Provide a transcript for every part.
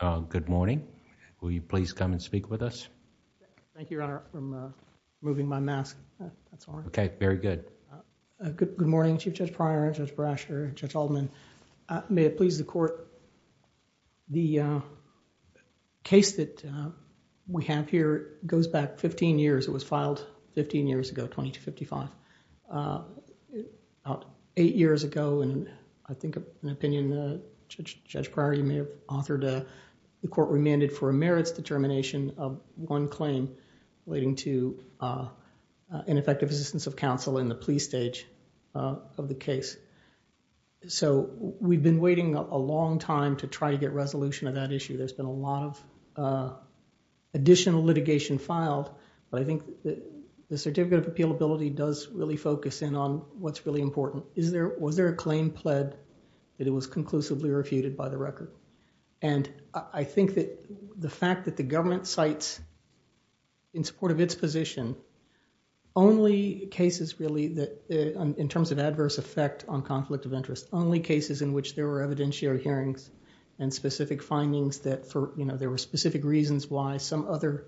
uh good morning will you please come and speak with us thank you your honor from uh removing my mask that's all okay very good uh good good morning chief judge prior judge brasher judge alderman uh may it please the court the uh case that uh we have here goes back 15 years it was filed 15 years ago 20 to 55 uh about eight years ago and i think an opinion uh judge prior you may authored a the court remanded for a merits determination of one claim relating to uh ineffective assistance of counsel in the plea stage of the case so we've been waiting a long time to try to get resolution of that issue there's been a lot of uh additional litigation filed but i think that the certificate of appealability does really focus in on what's really important is there was there a claim pled that it was conclusively refuted by the record and i think that the fact that the government cites in support of its position only cases really that in terms of adverse effect on conflict of interest only cases in which there were evidentiary hearings and specific findings that for you know there were specific reasons why some other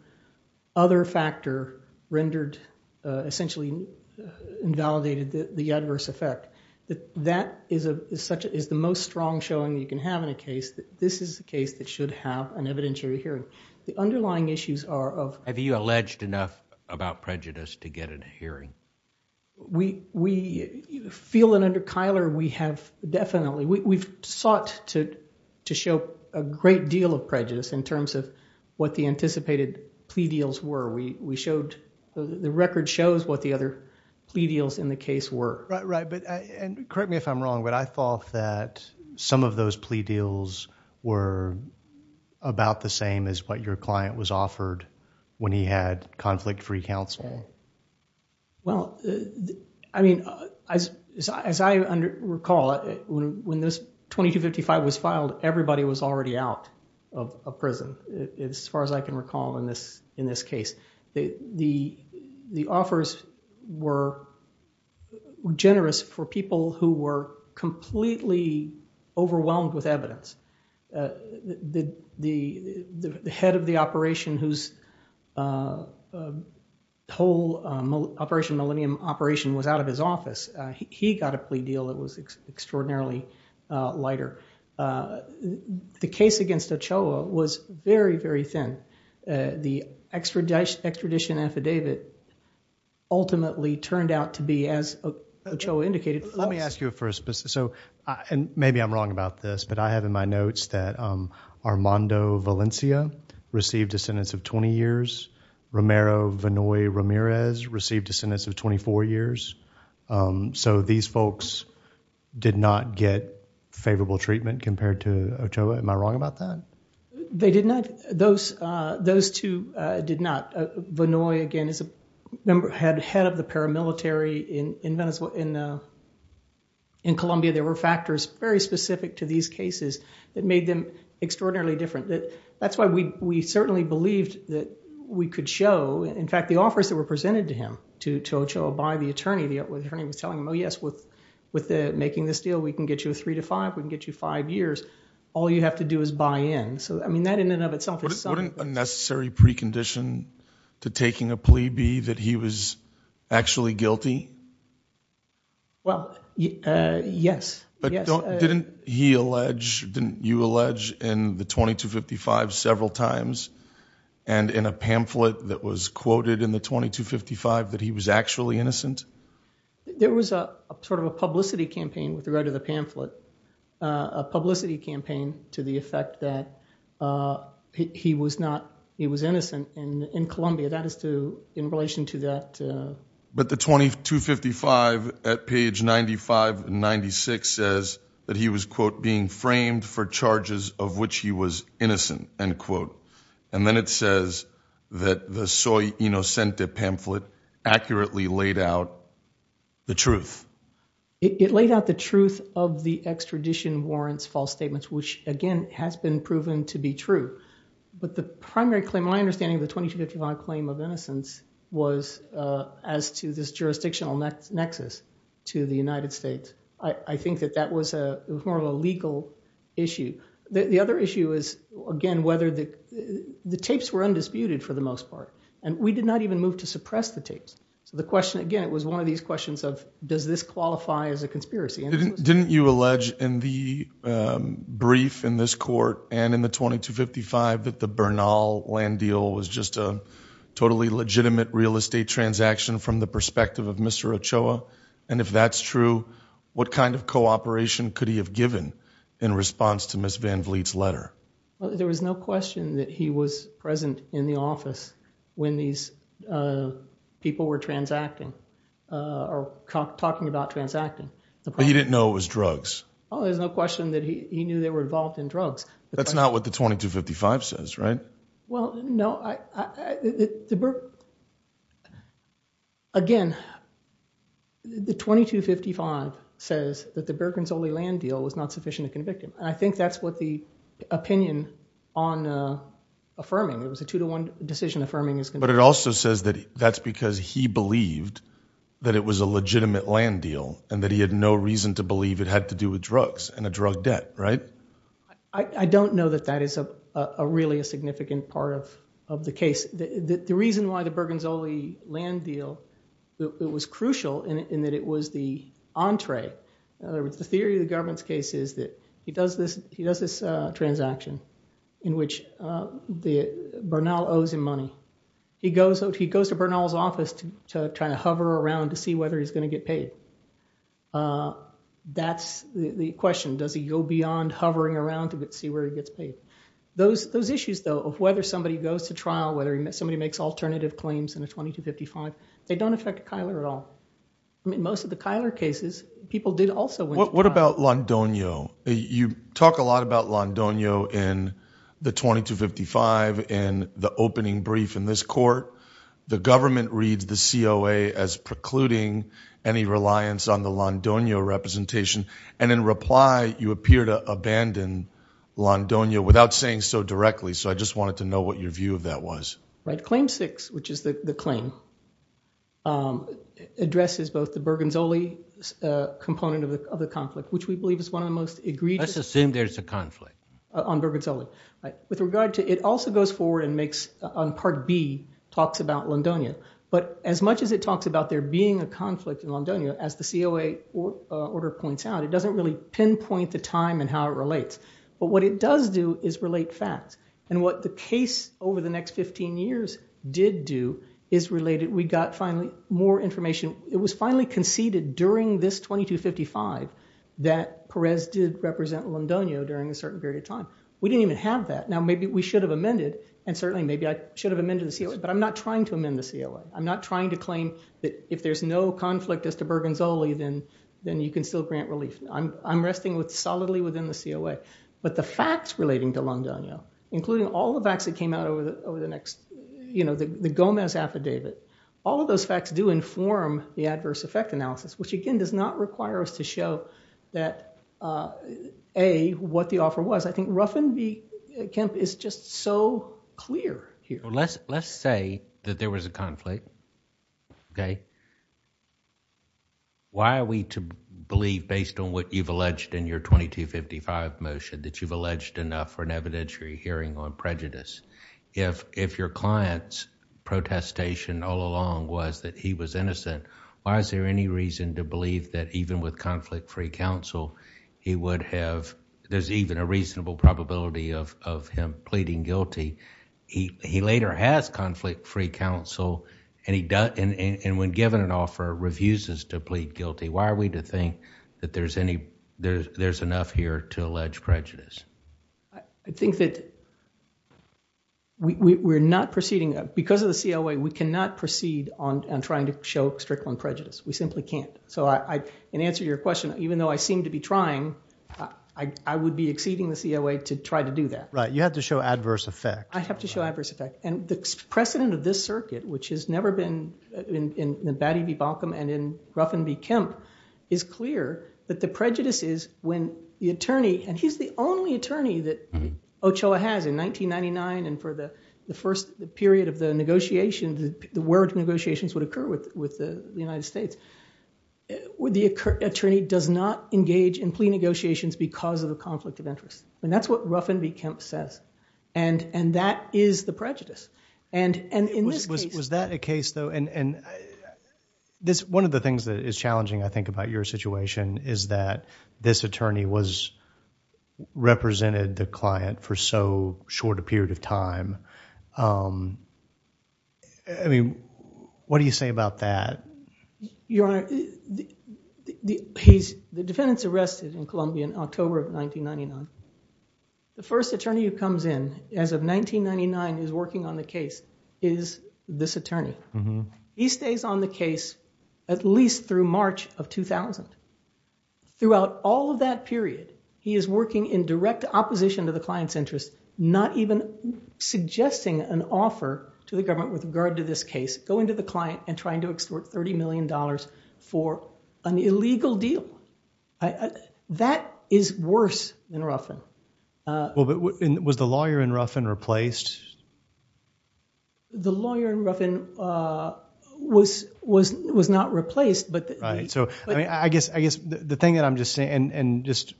other factor rendered uh essentially invalidated the adverse effect that that is a such is the most strong showing you can have in a case that this is a case that should have an evidentiary hearing the underlying issues are of have you alleged enough about prejudice to get an hearing we we feel that under kyler we have definitely we've sought to to show a great deal of prejudice in terms of what the anticipated plea deals were we we showed the record shows what the other plea deals in the case were right right but and correct me if i'm wrong but i thought that some of those plea deals were about the same as what your client was offered when he had conflict free counsel well i mean as as i under recall when this 2255 was filed everybody was were generous for people who were completely overwhelmed with evidence uh the the the head of the operation whose uh whole operation millennium operation was out of his office he got a plea deal that was extraordinarily uh lighter uh the case against ochoa was very very the extradition extradition affidavit ultimately turned out to be as ochoa indicated let me ask you first so and maybe i'm wrong about this but i have in my notes that um armando valencia received a sentence of 20 years romero vanoy ramirez received a sentence of 24 years um so these folks did not get favorable treatment compared to ochoa am i wrong about that they did not those uh those two uh did not vanoy again is a member had head of the paramilitary in in venezuela in uh in colombia there were factors very specific to these cases that made them extraordinarily different that that's why we we certainly believed that we could show in fact the offers that were presented to him to to ochoa by the attorney the attorney was telling him oh yes with with the making this deal we can get you a three to five we can get you five years all you have to do is buy in so i mean that in and of itself wouldn't a necessary precondition to taking a plea be that he was actually guilty well yes but didn't he allege didn't you allege in the 2255 several times and in a pamphlet that was quoted in the 2255 that he was actually innocent there was a sort of a publicity campaign with regard to the pamphlet uh a publicity campaign to the effect that uh he was not he was innocent in in colombia that is to in relation to that but the 2255 at page 95 96 says that he was quote being framed for charges of which he was innocent end quote and then it says that the soy inocente pamphlet accurately laid out the truth it laid out the truth of the extradition warrants false statements which again has been proven to be true but the primary claim my understanding of the 2255 claim of innocence was uh as to this jurisdictional nexus to the united states i i think that that was a more of a legal issue the other issue is again whether the the tapes were undisputed for the most part and we did not even move to suppress the tapes so the question again it was one of these questions of does this qualify as a conspiracy didn't you allege in the um brief in this court and in the 2255 that the bernal land deal was just a totally legitimate real estate transaction from the perspective of mr ochoa and if that's true what kind of cooperation could he have given in response to miss van vliet's letter there was no question that he was present in the office when these uh people were transacting uh or talking about transacting the but he didn't know it was drugs oh there's no question that he knew they were involved in drugs that's not what the 2255 says right well no i i the again the 2255 says that the bergens only land deal was not sufficient to convict him i think that's what the opinion on uh affirming it was a two-to-one decision affirming is but it also says that that's because he believed that it was a legitimate land deal and that he had no reason to believe it had to do with drugs and a drug debt right i i don't know that that is a a really a significant part of of the case the the reason why the bergens only land deal it was crucial in that it was the entree in other words the theory of the government's case is that he does this he does this uh transaction in which the bernal owes him money he goes out he goes to bernal's office to try to hover around to see whether he's going to get paid uh that's the question does he go beyond hovering around to see where he gets paid those those issues though of whether somebody goes to trial whether somebody makes alternative claims in a 2255 they don't affect kyler at all i mean most of the kyler cases people did also what about londonio you talk a lot about londonio in the 2255 in the opening brief in this court the government reads the coa as precluding any reliance on the londonio representation and in reply you appear to abandon londonio without saying so directly so i just wanted to know what your view of that was right claim six which is the the claim um addresses both the bergens only uh component of the of the conflict which we believe is one of the most egregious assume there's a conflict on bergens only right with regard to it also goes forward and makes on part b talks about londonia but as much as it talks about there being a conflict in londonia as the coa order points out it doesn't really pinpoint the time and how it relates but what it does do is relate facts and what the case over the next 15 years did do is related we got finally more information it was finally conceded during this 2255 that perez did represent londonio during a certain period of time we didn't even have that now maybe we should have amended and certainly maybe i should have amended the coa but i'm not trying to amend the coa i'm not trying to claim that if there's no conflict as to bergens only then then you can still grant relief i'm i'm resting with solidly within the coa but the facts relating to london including all the facts that over the next you know the gomez affidavit all of those facts do inform the adverse effect analysis which again does not require us to show that uh a what the offer was i think ruffin v kemp is just so clear here let's let's say that there was a conflict okay why are we to believe based on what you've alleged in your 2255 motion that you've alleged enough for if your client's protestation all along was that he was innocent why is there any reason to believe that even with conflict free counsel he would have there's even a reasonable probability of of him pleading guilty he he later has conflict free counsel and he does and when given an offer refuses to plead guilty why are we to think that there's any there's enough here to allege prejudice i i think that we we're not proceeding because of the coa we cannot proceed on trying to show strict one prejudice we simply can't so i i can answer your question even though i seem to be trying i i would be exceeding the coa to try to do that right you have to show adverse effect i have to show adverse effect and the precedent of this circuit which has never been in in the baddie b balkan and in ruffin v kemp is clear that the prejudice is when the attorney and he's the only attorney that ochoa has in 1999 and for the the first period of the negotiation the word negotiations would occur with with the united states would the attorney does not engage in plea negotiations because of the conflict of interest and that's what ruffin v kemp says and and that is the prejudice and and in this case was that a case though and and this one of the things that is challenging i think about your situation is that this attorney was represented the client for so short a period of time um i mean what do you say about that your honor the he's the defendant's arrested in columbia in october of 1999 the first attorney who comes in as of 1999 is working on the case is this attorney he stays on at least through march of 2000 throughout all of that period he is working in direct opposition to the client's interest not even suggesting an offer to the government with regard to this case going to the client and trying to extort 30 million dollars for an illegal deal that is worse than ruffin uh well but was the lawyer in ruffin replaced the lawyer in ruffin uh was was was not replaced but right so i mean i guess i guess the thing that i'm just saying and and just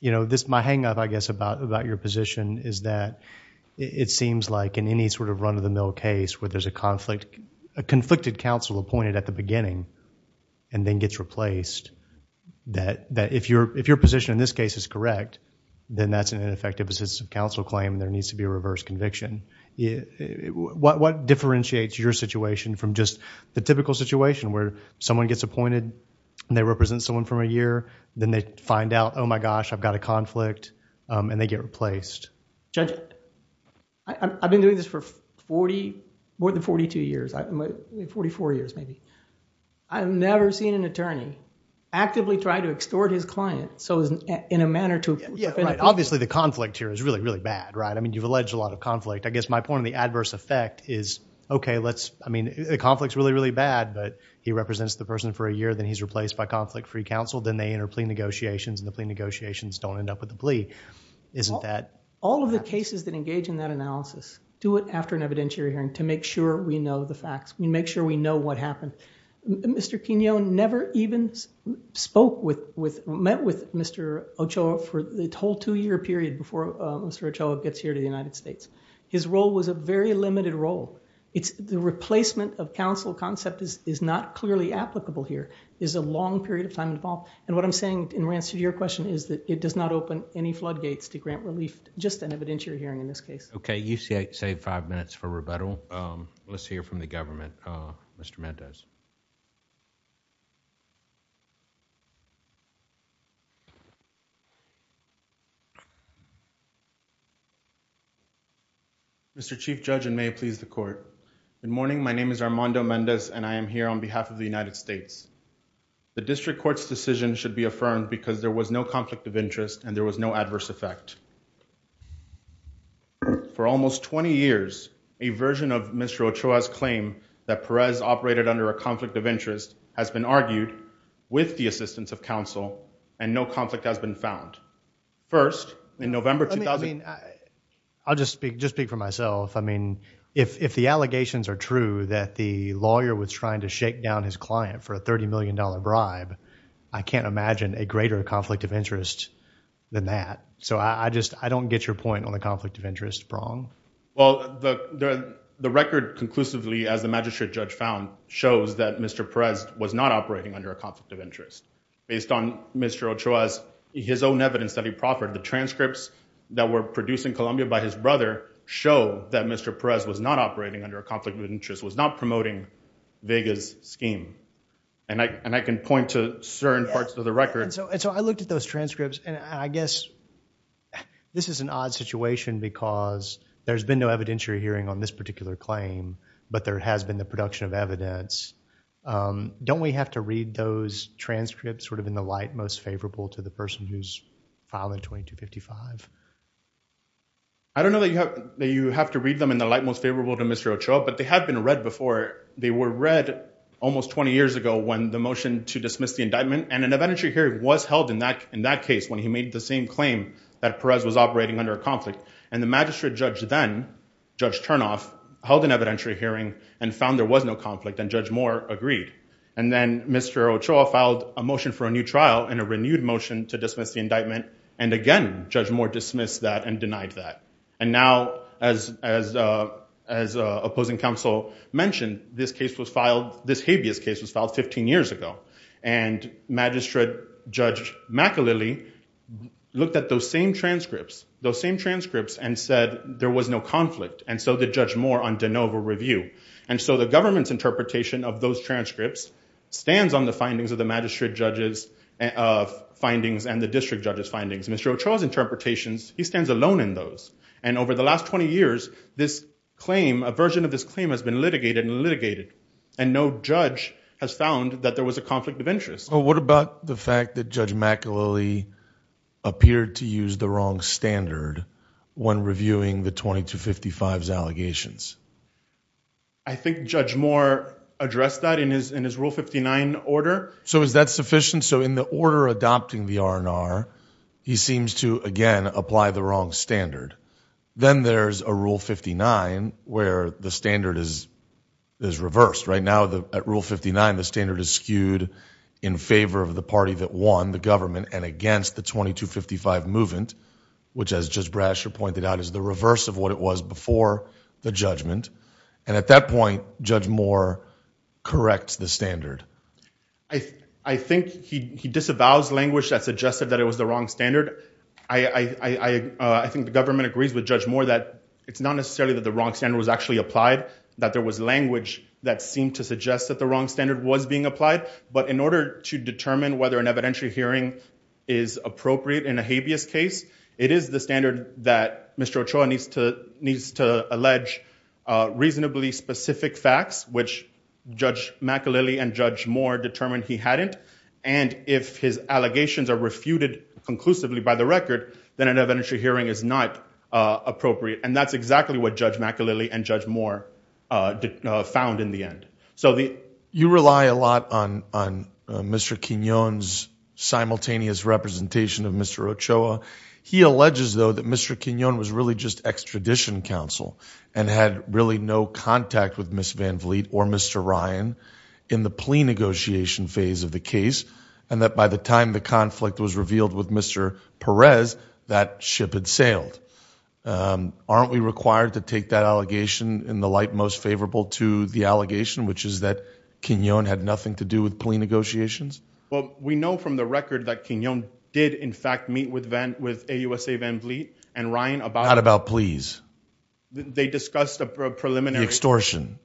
you know this my hang-up i guess about about your position is that it seems like in any sort of run-of-the-mill case where there's a conflict a conflicted counsel appointed at the beginning and then gets replaced that that if your if your position in this case is correct then that's an ineffective assistance of counsel claim there needs to be a reverse conviction yeah what what differentiates your situation from just the typical situation where someone gets appointed and they represent someone from a year then they find out oh my gosh i've got a conflict um and they get replaced judge i've been doing this for 40 more than 42 years 44 years maybe i've never seen an attorney actively try to extort his client so in a manner to yeah right obviously the conflict here is really really bad right i mean you've alleged a lot of conflict i guess my point the adverse effect is okay let's i mean the conflict's really really bad but he represents the person for a year then he's replaced by conflict free counsel then they enter plea negotiations and the plea negotiations don't end up with the plea isn't that all of the cases that engage in that analysis do it after an evidentiary hearing to make sure we know the facts we make sure we know what happened mr quinone never even spoke with with met with mr ochoa for the whole two-year period before mr ochoa gets here to the united states his role was a very limited role it's the replacement of counsel concept is is not clearly applicable here is a long period of time involved and what i'm saying in answer to your question is that it does not open any floodgates to grant relief just an evidentiary hearing in this case okay you see save five minutes for rebuttal um let's hear from the government uh mr mendes mr chief judge and may please the court good morning my name is armando mendes and i am here on behalf of the united states the district court's decision should be affirmed because there was no conflict of interest and there was no adverse effect for almost 20 years a version of mr ochoa's claim that perez operated under a conflict of interest has been argued with the assistance of counsel and no conflict has been found first in november 2000 i mean i i'll just speak just speak for myself i mean if if the allegations are true that the lawyer was trying to shake down his client for a 30 million dollar bribe i can't imagine a greater conflict of interest than that so i just i don't get your point on the conflict of interest wrong well the the record conclusively as the magistrate judge found shows that mr perez was not operating under a conflict of interest based on mr ochoa's his own evidence that he proffered the transcripts that were produced in colombia by his brother show that mr perez was not operating under a scheme and i and i can point to certain parts of the record and so and so i looked at those transcripts and i guess this is an odd situation because there's been no evidentiary hearing on this particular claim but there has been the production of evidence um don't we have to read those transcripts sort of in the light most favorable to the person who's filing 2255 i don't know that you have that you have to read them in the light most favorable to mr ochoa but they have been read before they were read almost 20 years ago when the motion to dismiss the indictment and an evidentiary hearing was held in that in that case when he made the same claim that perez was operating under a conflict and the magistrate judge then judge turnoff held an evidentiary hearing and found there was no conflict and judge more agreed and then mr ochoa filed a motion for a new trial in a renewed motion to dismiss the indictment and again judge more mentioned this case was filed this habeas case was filed 15 years ago and magistrate judge maca lily looked at those same transcripts those same transcripts and said there was no conflict and so the judge more on de novo review and so the government's interpretation of those transcripts stands on the findings of the magistrate judges of findings and the district judge's findings mr ochoa's interpretations he stands alone in those and over the last 20 years this claim a has been litigated and litigated and no judge has found that there was a conflict of interest so what about the fact that judge maca lily appeared to use the wrong standard when reviewing the 22 55's allegations i think judge more addressed that in his in his rule 59 order so is that sufficient so in the order adopting the r&r he seems to again apply the wrong standard then there's a rule 59 where the standard is is reversed right now the at rule 59 the standard is skewed in favor of the party that won the government and against the 22 55 movement which as judge bradshaw pointed out is the reverse of what it was before the judgment and at that point judge more corrects the standard i i think he he disavows language that suggested that it was the wrong standard i i i uh i think the government agrees with judge more that it's not necessarily that the wrong standard was actually applied that there was language that seemed to suggest that the wrong standard was being applied but in order to determine whether an evidentiary hearing is appropriate in a habeas case it is the standard that mr ochoa needs to needs to allege uh reasonably specific facts which judge maca lily and judge more determined he hadn't and if his allegations are refuted conclusively by the record then an evidentiary hearing is not uh appropriate and that's exactly what judge maca lily and judge more uh found in the end so the you rely a lot on on mr quinones simultaneous representation of mr ochoa he alleges though that mr quinone was really just counsel and had really no contact with miss van vliet or mr ryan in the plea negotiation phase of the case and that by the time the conflict was revealed with mr perez that ship had sailed um aren't we required to take that allegation in the light most favorable to the allegation which is that quinone had nothing to do with plea negotiations well we know from the they discussed a preliminary extortion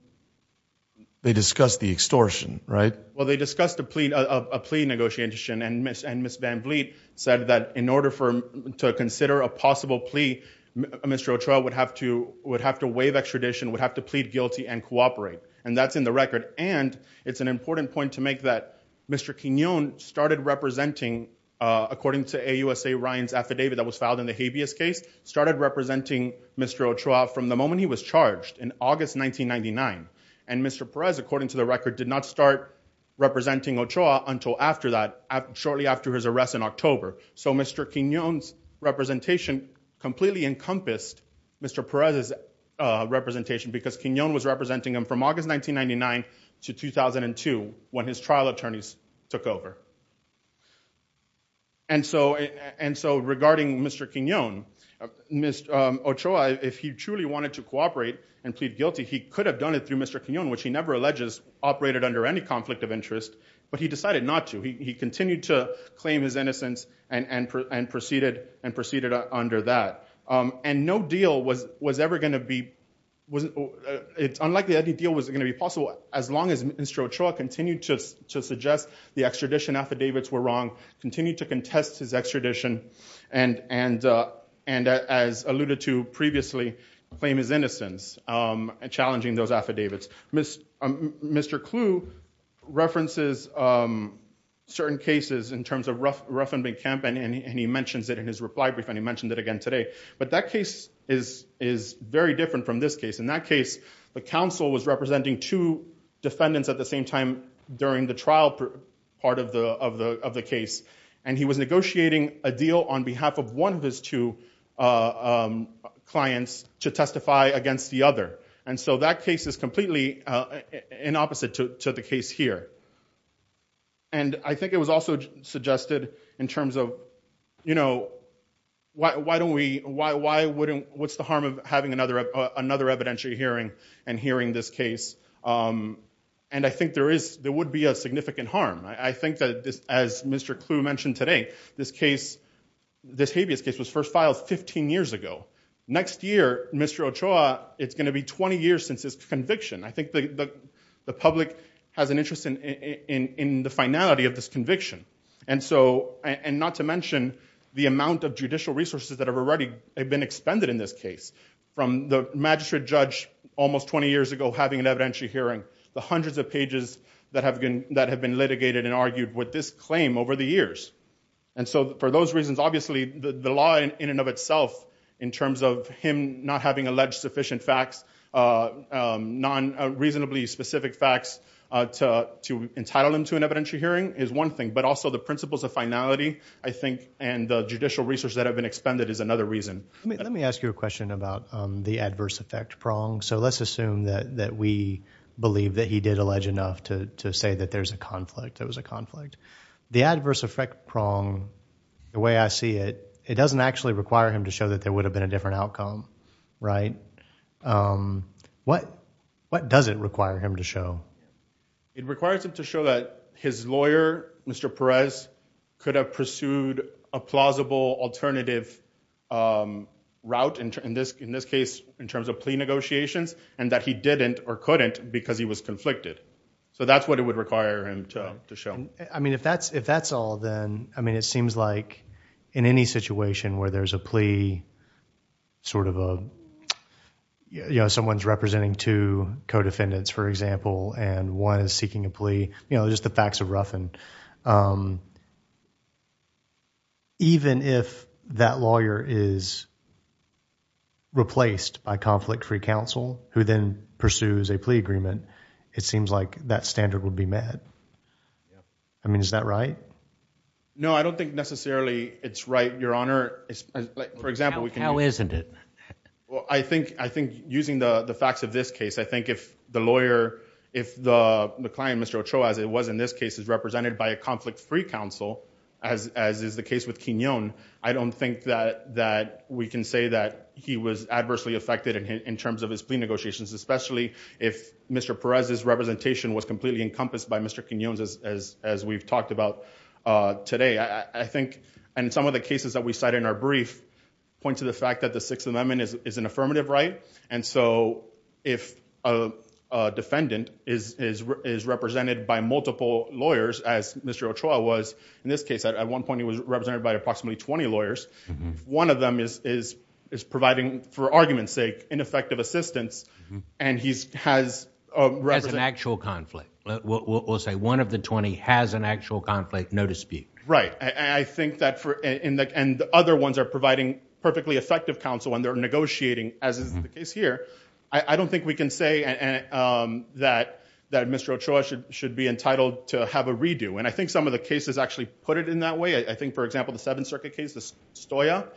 they discussed the extortion right well they discussed a plea of a plea negotiation and miss and miss van vliet said that in order for to consider a possible plea mr ochoa would have to would have to waive extradition would have to plead guilty and cooperate and that's in the record and it's an important point to make that mr quinone started representing uh according to a usa ryan's affidavit that was filed in the habeas case started representing mr ochoa from the moment he was charged in august 1999 and mr perez according to the record did not start representing ochoa until after that shortly after his arrest in october so mr quinones representation completely encompassed mr perez's uh representation because quinone was representing him from august 1999 to 2002 when his trial attorneys took over and so and so regarding mr quinone mr um ochoa if he truly wanted to cooperate and plead guilty he could have done it through mr quinone which he never alleges operated under any conflict of interest but he decided not to he continued to claim his innocence and and and proceeded and proceeded under that um and no deal was was ever going to be was it's unlikely any deal was going to be possible as long as mr ochoa continued to to suggest the extradition act uh and as alluded to previously claim his innocence um and challenging those affidavits miss um mr clue references um certain cases in terms of ruff ruffenbeck camp and and he mentions it in his reply brief and he mentioned it again today but that case is is very different from this case in that case the council was representing two defendants at the same time during the trial part of the of the of the case and he was negotiating a deal on behalf of one of his two uh um clients to testify against the other and so that case is completely uh in opposite to the case here and i think it was also suggested in terms of you know why why don't we why why wouldn't what's the harm of having another another evidentiary hearing and hearing this case um and i think there is there would be a significant harm i think that this as mr clue mentioned today this case this habeas case was first filed 15 years ago next year mr ochoa it's going to be 20 years since his conviction i think the the public has an interest in in in the finality of this conviction and so and not to mention the amount of judicial resources that have already been expended in this case from the magistrate judge almost 20 years ago having an evidentiary hearing the hundreds of pages that have been that have been litigated and argued with this claim over the years and so for those reasons obviously the the law in and of itself in terms of him not having alleged sufficient facts uh non-reasonably specific facts uh to to entitle him to an evidentiary hearing is one thing but also the principles of finality i think and the judicial research that have been expended is another reason let me ask you a question about the adverse effect prong so let's assume that that we believe that he did allege enough to to say that there's a conflict there was a conflict the adverse effect prong the way i see it it doesn't actually require him to show that there would have been a different outcome right um what what does it require him to show it requires him to show that his lawyer mr perez could have pursued a plausible alternative um route in this in this case in terms of plea negotiations and that he didn't or couldn't because he was conflicted so that's what it would require him to to show i mean if that's if that's all then i mean it seems like in any situation where there's a plea sort of a you know someone's representing two co-defendants for example and one is seeking a plea you know just the facts are rough um even if that lawyer is replaced by conflict-free counsel who then pursues a plea agreement it seems like that standard would be met i mean is that right no i don't think necessarily it's right your honor for example how isn't it well i think i think using the the facts of this case i in this case is represented by a conflict-free counsel as as is the case with quinone i don't think that that we can say that he was adversely affected in terms of his plea negotiations especially if mr perez's representation was completely encompassed by mr quinones as as as we've talked about uh today i i think and some of the cases that we cite in our brief point to the fact that the sixth amendment is is an affirmative right and so if a defendant is is represented by multiple lawyers as mr ochoa was in this case at one point he was represented by approximately 20 lawyers one of them is is is providing for argument's sake ineffective assistance and he's has a represent actual conflict we'll say one of the 20 has an actual conflict no dispute right i i think that for in the and the other ones are providing perfectly effective counsel when they're negotiating as is the case here i i don't think we can say and um that that mr ochoa should should be entitled to have a redo and i think some of the cases actually put it in that way i think for example the seventh circuit case the stoia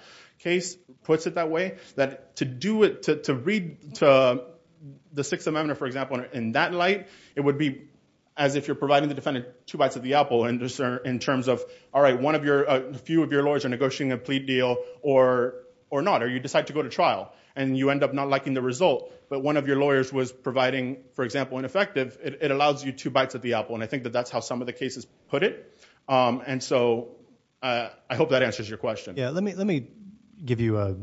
case puts it that way that to do it to to read to the sixth amendment for example in that light it would be as if you're providing the defendant two bites of the apple and discern in terms of all right one of your a few of your lawyers are negotiating a plea deal or or not or you decide to go to trial and you end up not liking the result but one of your lawyers was providing for example ineffective it allows you two bites of the apple and i think that that's how some of the cases put it um and so uh i hope that answers your question yeah let me let me give you a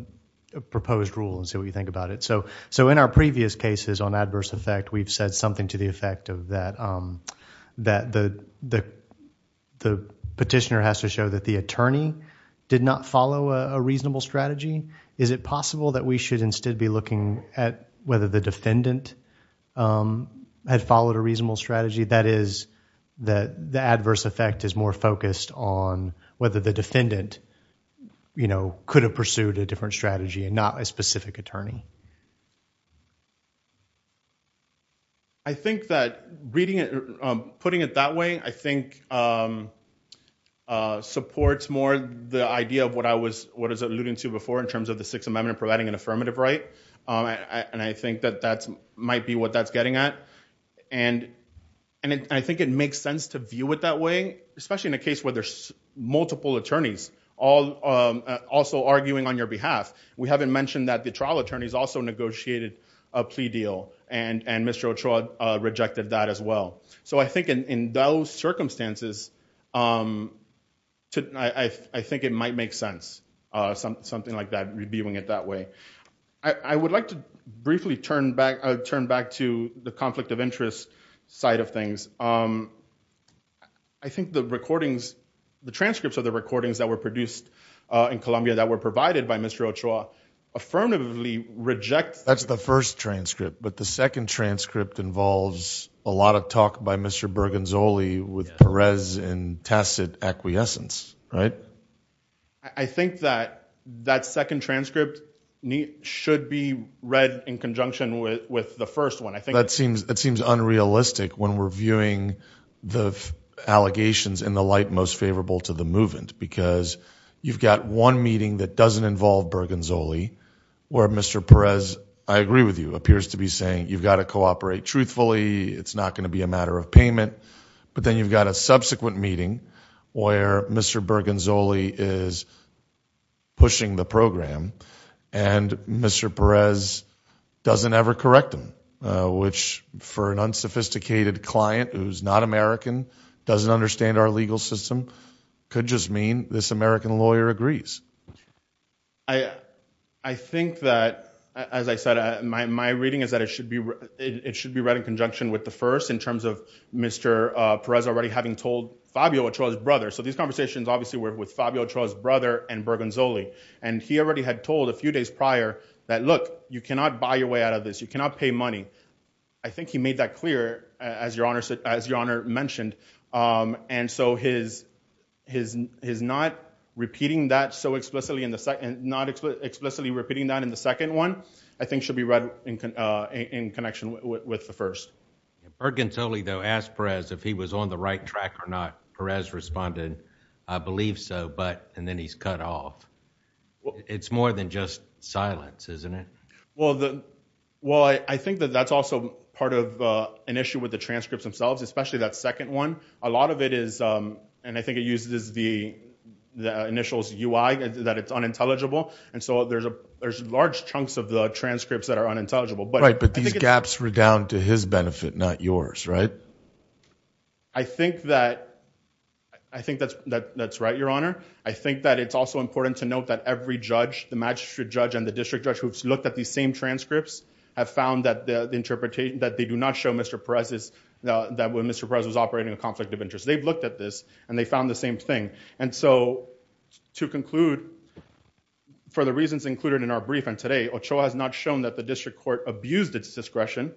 proposed rule and see what you think about it so so in our previous cases on adverse effect we've said something to the effect of that um that the the the petitioner has to show that the attorney did not follow a reasonable strategy is it possible that we should instead be looking at whether the defendant um had followed a reasonable strategy that is that the adverse effect is more focused on whether the defendant you know could have pursued a different strategy and not a specific attorney i think that reading it um putting it that way i think um uh supports more the idea of what i was what is alluding to before in terms of the sixth amendment providing an affirmative right um and i think that that's might be what that's getting at and and i think it makes sense to view it that way especially in a case where there's multiple attorneys all um also arguing on your behalf we haven't mentioned that the trial attorneys also negotiated a plea deal and and Mr. Ochoa rejected that as well so i think in in those circumstances um to i i think it might make sense uh something like that reviewing it that way i i would like to briefly turn back turn back to the conflict of interest side of things um i think the recordings the transcripts of the recordings that were produced uh in Colombia that were provided by Mr. Ochoa affirmatively rejects that's the first transcript but the second transcript involves a lot of talk by Mr. Bergenzoli with Perez and tacit acquiescence right i think that that second transcript should be read in conjunction with with the first one i think that seems that seems unrealistic when reviewing the allegations in the light most favorable to the movement because you've got one meeting that doesn't involve Bergenzoli where Mr. Perez i agree with you appears to be saying you've got to cooperate truthfully it's not going to be a matter of payment but then you've got a subsequent meeting where Mr. Bergenzoli is pushing the program and Mr. Perez doesn't ever correct which for an unsophisticated client who's not American doesn't understand our legal system could just mean this American lawyer agrees i i think that as i said my my reading is that it should be it should be read in conjunction with the first in terms of Mr. Perez already having told Fabio Ochoa's brother so these conversations obviously were with Fabio Ochoa's brother and Bergenzoli and he already had told a few days prior that look you cannot buy your way out of this you cannot pay money i think he made that clear as your honor said as your honor mentioned um and so his his his not repeating that so explicitly in the second not explicitly repeating that in the second one i think should be read in uh in connection with the first Bergenzoli though asked Perez if he was on the right track or not Perez responded i believe so and then he's cut off it's more than just silence isn't it well the well i i think that that's also part of uh an issue with the transcripts themselves especially that second one a lot of it is um and i think it uses the the initials ui that it's unintelligible and so there's a there's large chunks of the transcripts that are unintelligible but right but these gaps were to his benefit not yours right i think that i think that's that that's right your honor i think that it's also important to note that every judge the magistrate judge and the district judge who looked at these same transcripts have found that the interpretation that they do not show mr Perez is that when mr Perez was operating a conflict of interest they've looked at this and they found the same thing and so to conclude for the reasons included in our brief and today has not shown that the district court abused its discretion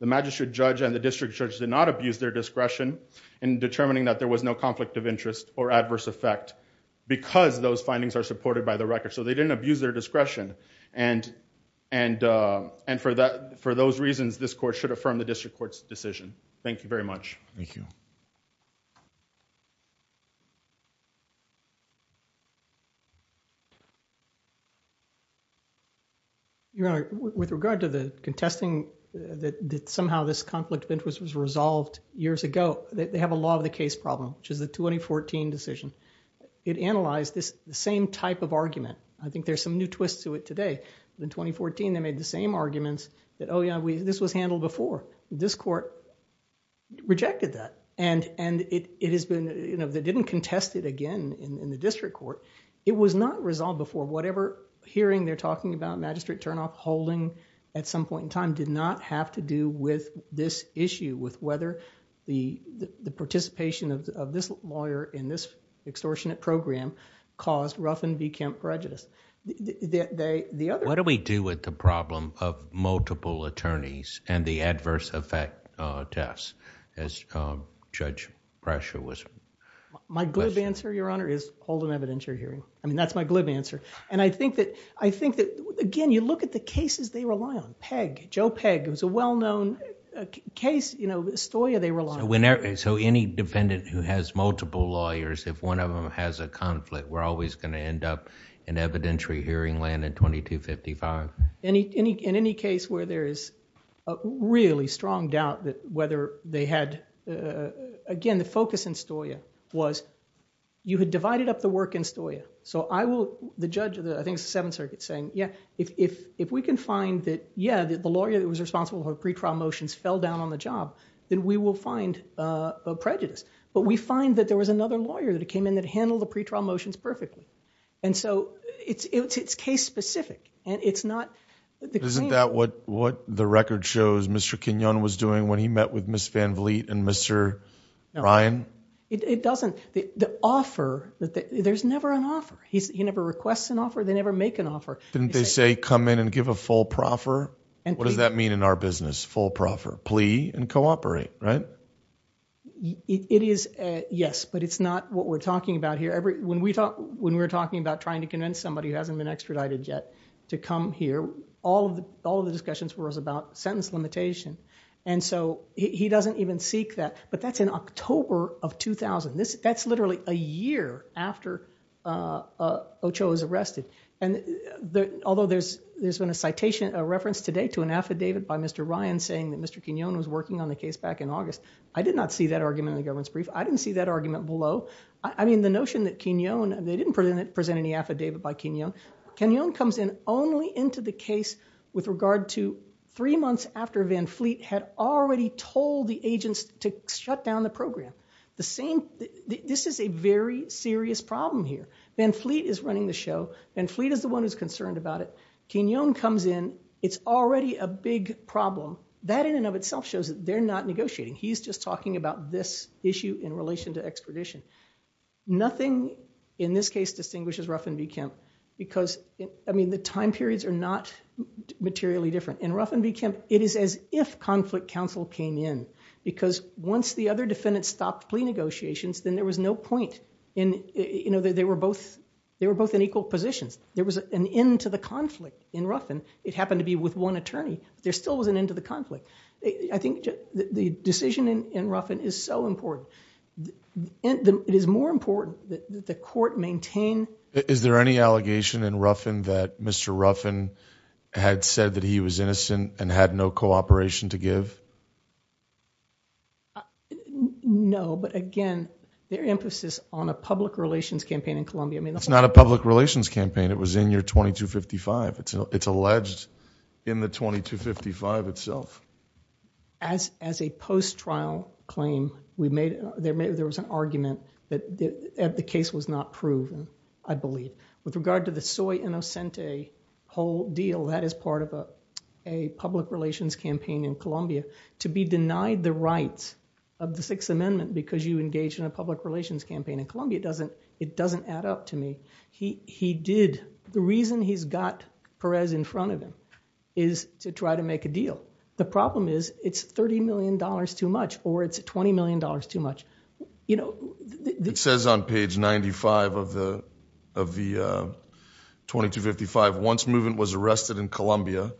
the magistrate judge and the district judge did not abuse their discretion in determining that there was no conflict of interest or adverse effect because those findings are supported by the record so they didn't abuse their discretion and and uh and for that for those reasons this court should affirm the district court's decision thank you very much thank you your honor with regard to the contesting that that somehow this conflict of interest was resolved years ago they have a law of the case problem which is the 2014 decision it analyzed this the same type of argument i think there's some new twists to it today in 2014 they made the same arguments that oh yeah this was handled before this court rejected that and and it it has been you know they didn't contest it again in the district court it was not resolved before whatever hearing they're talking about magistrate turnoff holding at some point in time did not have to do with this issue with whether the the participation of this lawyer in this extortionate program caused ruffin v kemp prejudice they the other what do we do with the problem of multiple attorneys and the adverse effect uh tests as uh judge pressure was my glib answer your honor is hold an evidentiary hearing i mean that's my glib answer and i think that i think that again you look at the cases they rely on peg joe peg it was a well known case you know stoia they rely on whenever so any defendant who has multiple lawyers if one of them has a conflict we're always going to end up in evidentiary hearing land in 2255 any any in any case where there is a really strong doubt that whether they had uh again the focus in stoia was you had divided up the work in stoia so i will the judge of the i think seven circuit saying yeah if if if we can find that yeah the lawyer that was responsible for pre-trial motions fell down on the job then we will find uh a prejudice but we find that there was another lawyer that came in that handled the pre-trial motions perfectly and so it's it's it's case specific and it's not isn't that what what the record shows mr quinone was doing when he met with miss van vliet and mr ryan it doesn't the the offer that there's never an offer he's he never requests an offer they never make an offer didn't they say come in and give a full proffer and what does that mean in our business full proffer plea and cooperate right it is yes but it's not what we're talking about here every when we talk when we're talking about trying to convince somebody who hasn't been extradited yet to come here all of the all of the discussions were about sentence limitation and so he doesn't even seek that but that's in october of 2000 this that's and the although there's there's been a citation a reference today to an affidavit by mr ryan saying that mr quinone was working on the case back in august i did not see that argument in the government's brief i didn't see that argument below i mean the notion that quinone they didn't present any affidavit by quinone quinone comes in only into the case with regard to three months after van vliet had already told the agents to shut down the program the same this is a very serious problem here van vliet is running the show and fleet is the one who's concerned about it quinone comes in it's already a big problem that in and of itself shows that they're not negotiating he's just talking about this issue in relation to extradition nothing in this case distinguishes ruffin v kemp because i mean the time periods are not materially different in ruffin v kemp it is as if conflict council came in because once the other defendants stopped plea negotiations then there was no point in you know they were both they were both in equal positions there was an end to the conflict in ruffin it happened to be with one attorney there still was an end to the conflict i think the decision in ruffin is so important it is more important that the court maintain is there any allegation in ruffin that mr ruffin had said that he was innocent and had no operation to give no but again their emphasis on a public relations campaign in columbia i mean it's not a public relations campaign it was in your 2255 it's it's alleged in the 2255 itself as as a post-trial claim we made there maybe there was an argument that the case was not proven i believe with a public relations campaign in columbia to be denied the rights of the sixth amendment because you engage in a public relations campaign in columbia doesn't it doesn't add up to me he he did the reason he's got perez in front of him is to try to make a deal the problem is it's 30 million dollars too much or it's 20 million dollars too much you know it says on page 95 of of the 2255 once movement was arrested in columbia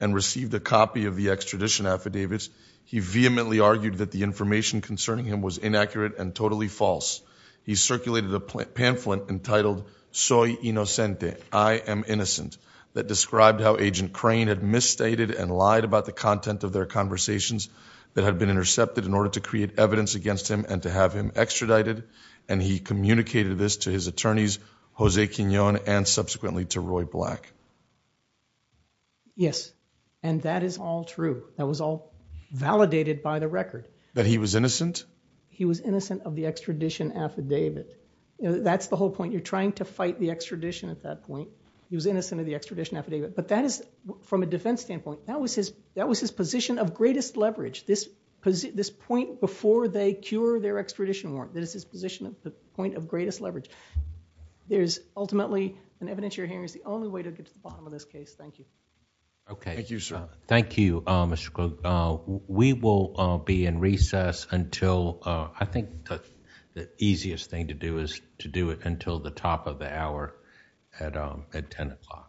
and received a copy of the extradition affidavits he vehemently argued that the information concerning him was inaccurate and totally false he circulated a pamphlet entitled soy inocente i am innocent that described how agent crane had misstated and lied about the content of their conversations that had been intercepted in order to create evidence against him and to have him extradited and he communicated this to his attorneys jose quinone and subsequently to roy black yes and that is all true that was all validated by the record that he was innocent he was innocent of the extradition affidavit that's the whole point you're trying to fight the extradition at that point he was innocent of the extradition affidavit but that is from a defense standpoint that was his that was his position of greatest leverage this position this point before they cure their extradition warrant that is his position at the point of greatest leverage there's ultimately an evidence you're hearing is the only way to get to the bottom of this case thank you okay thank you sir thank you uh mr we will uh be in recess until uh i think that the easiest thing to do is to do it until the top of the hour at um at 10 o'clock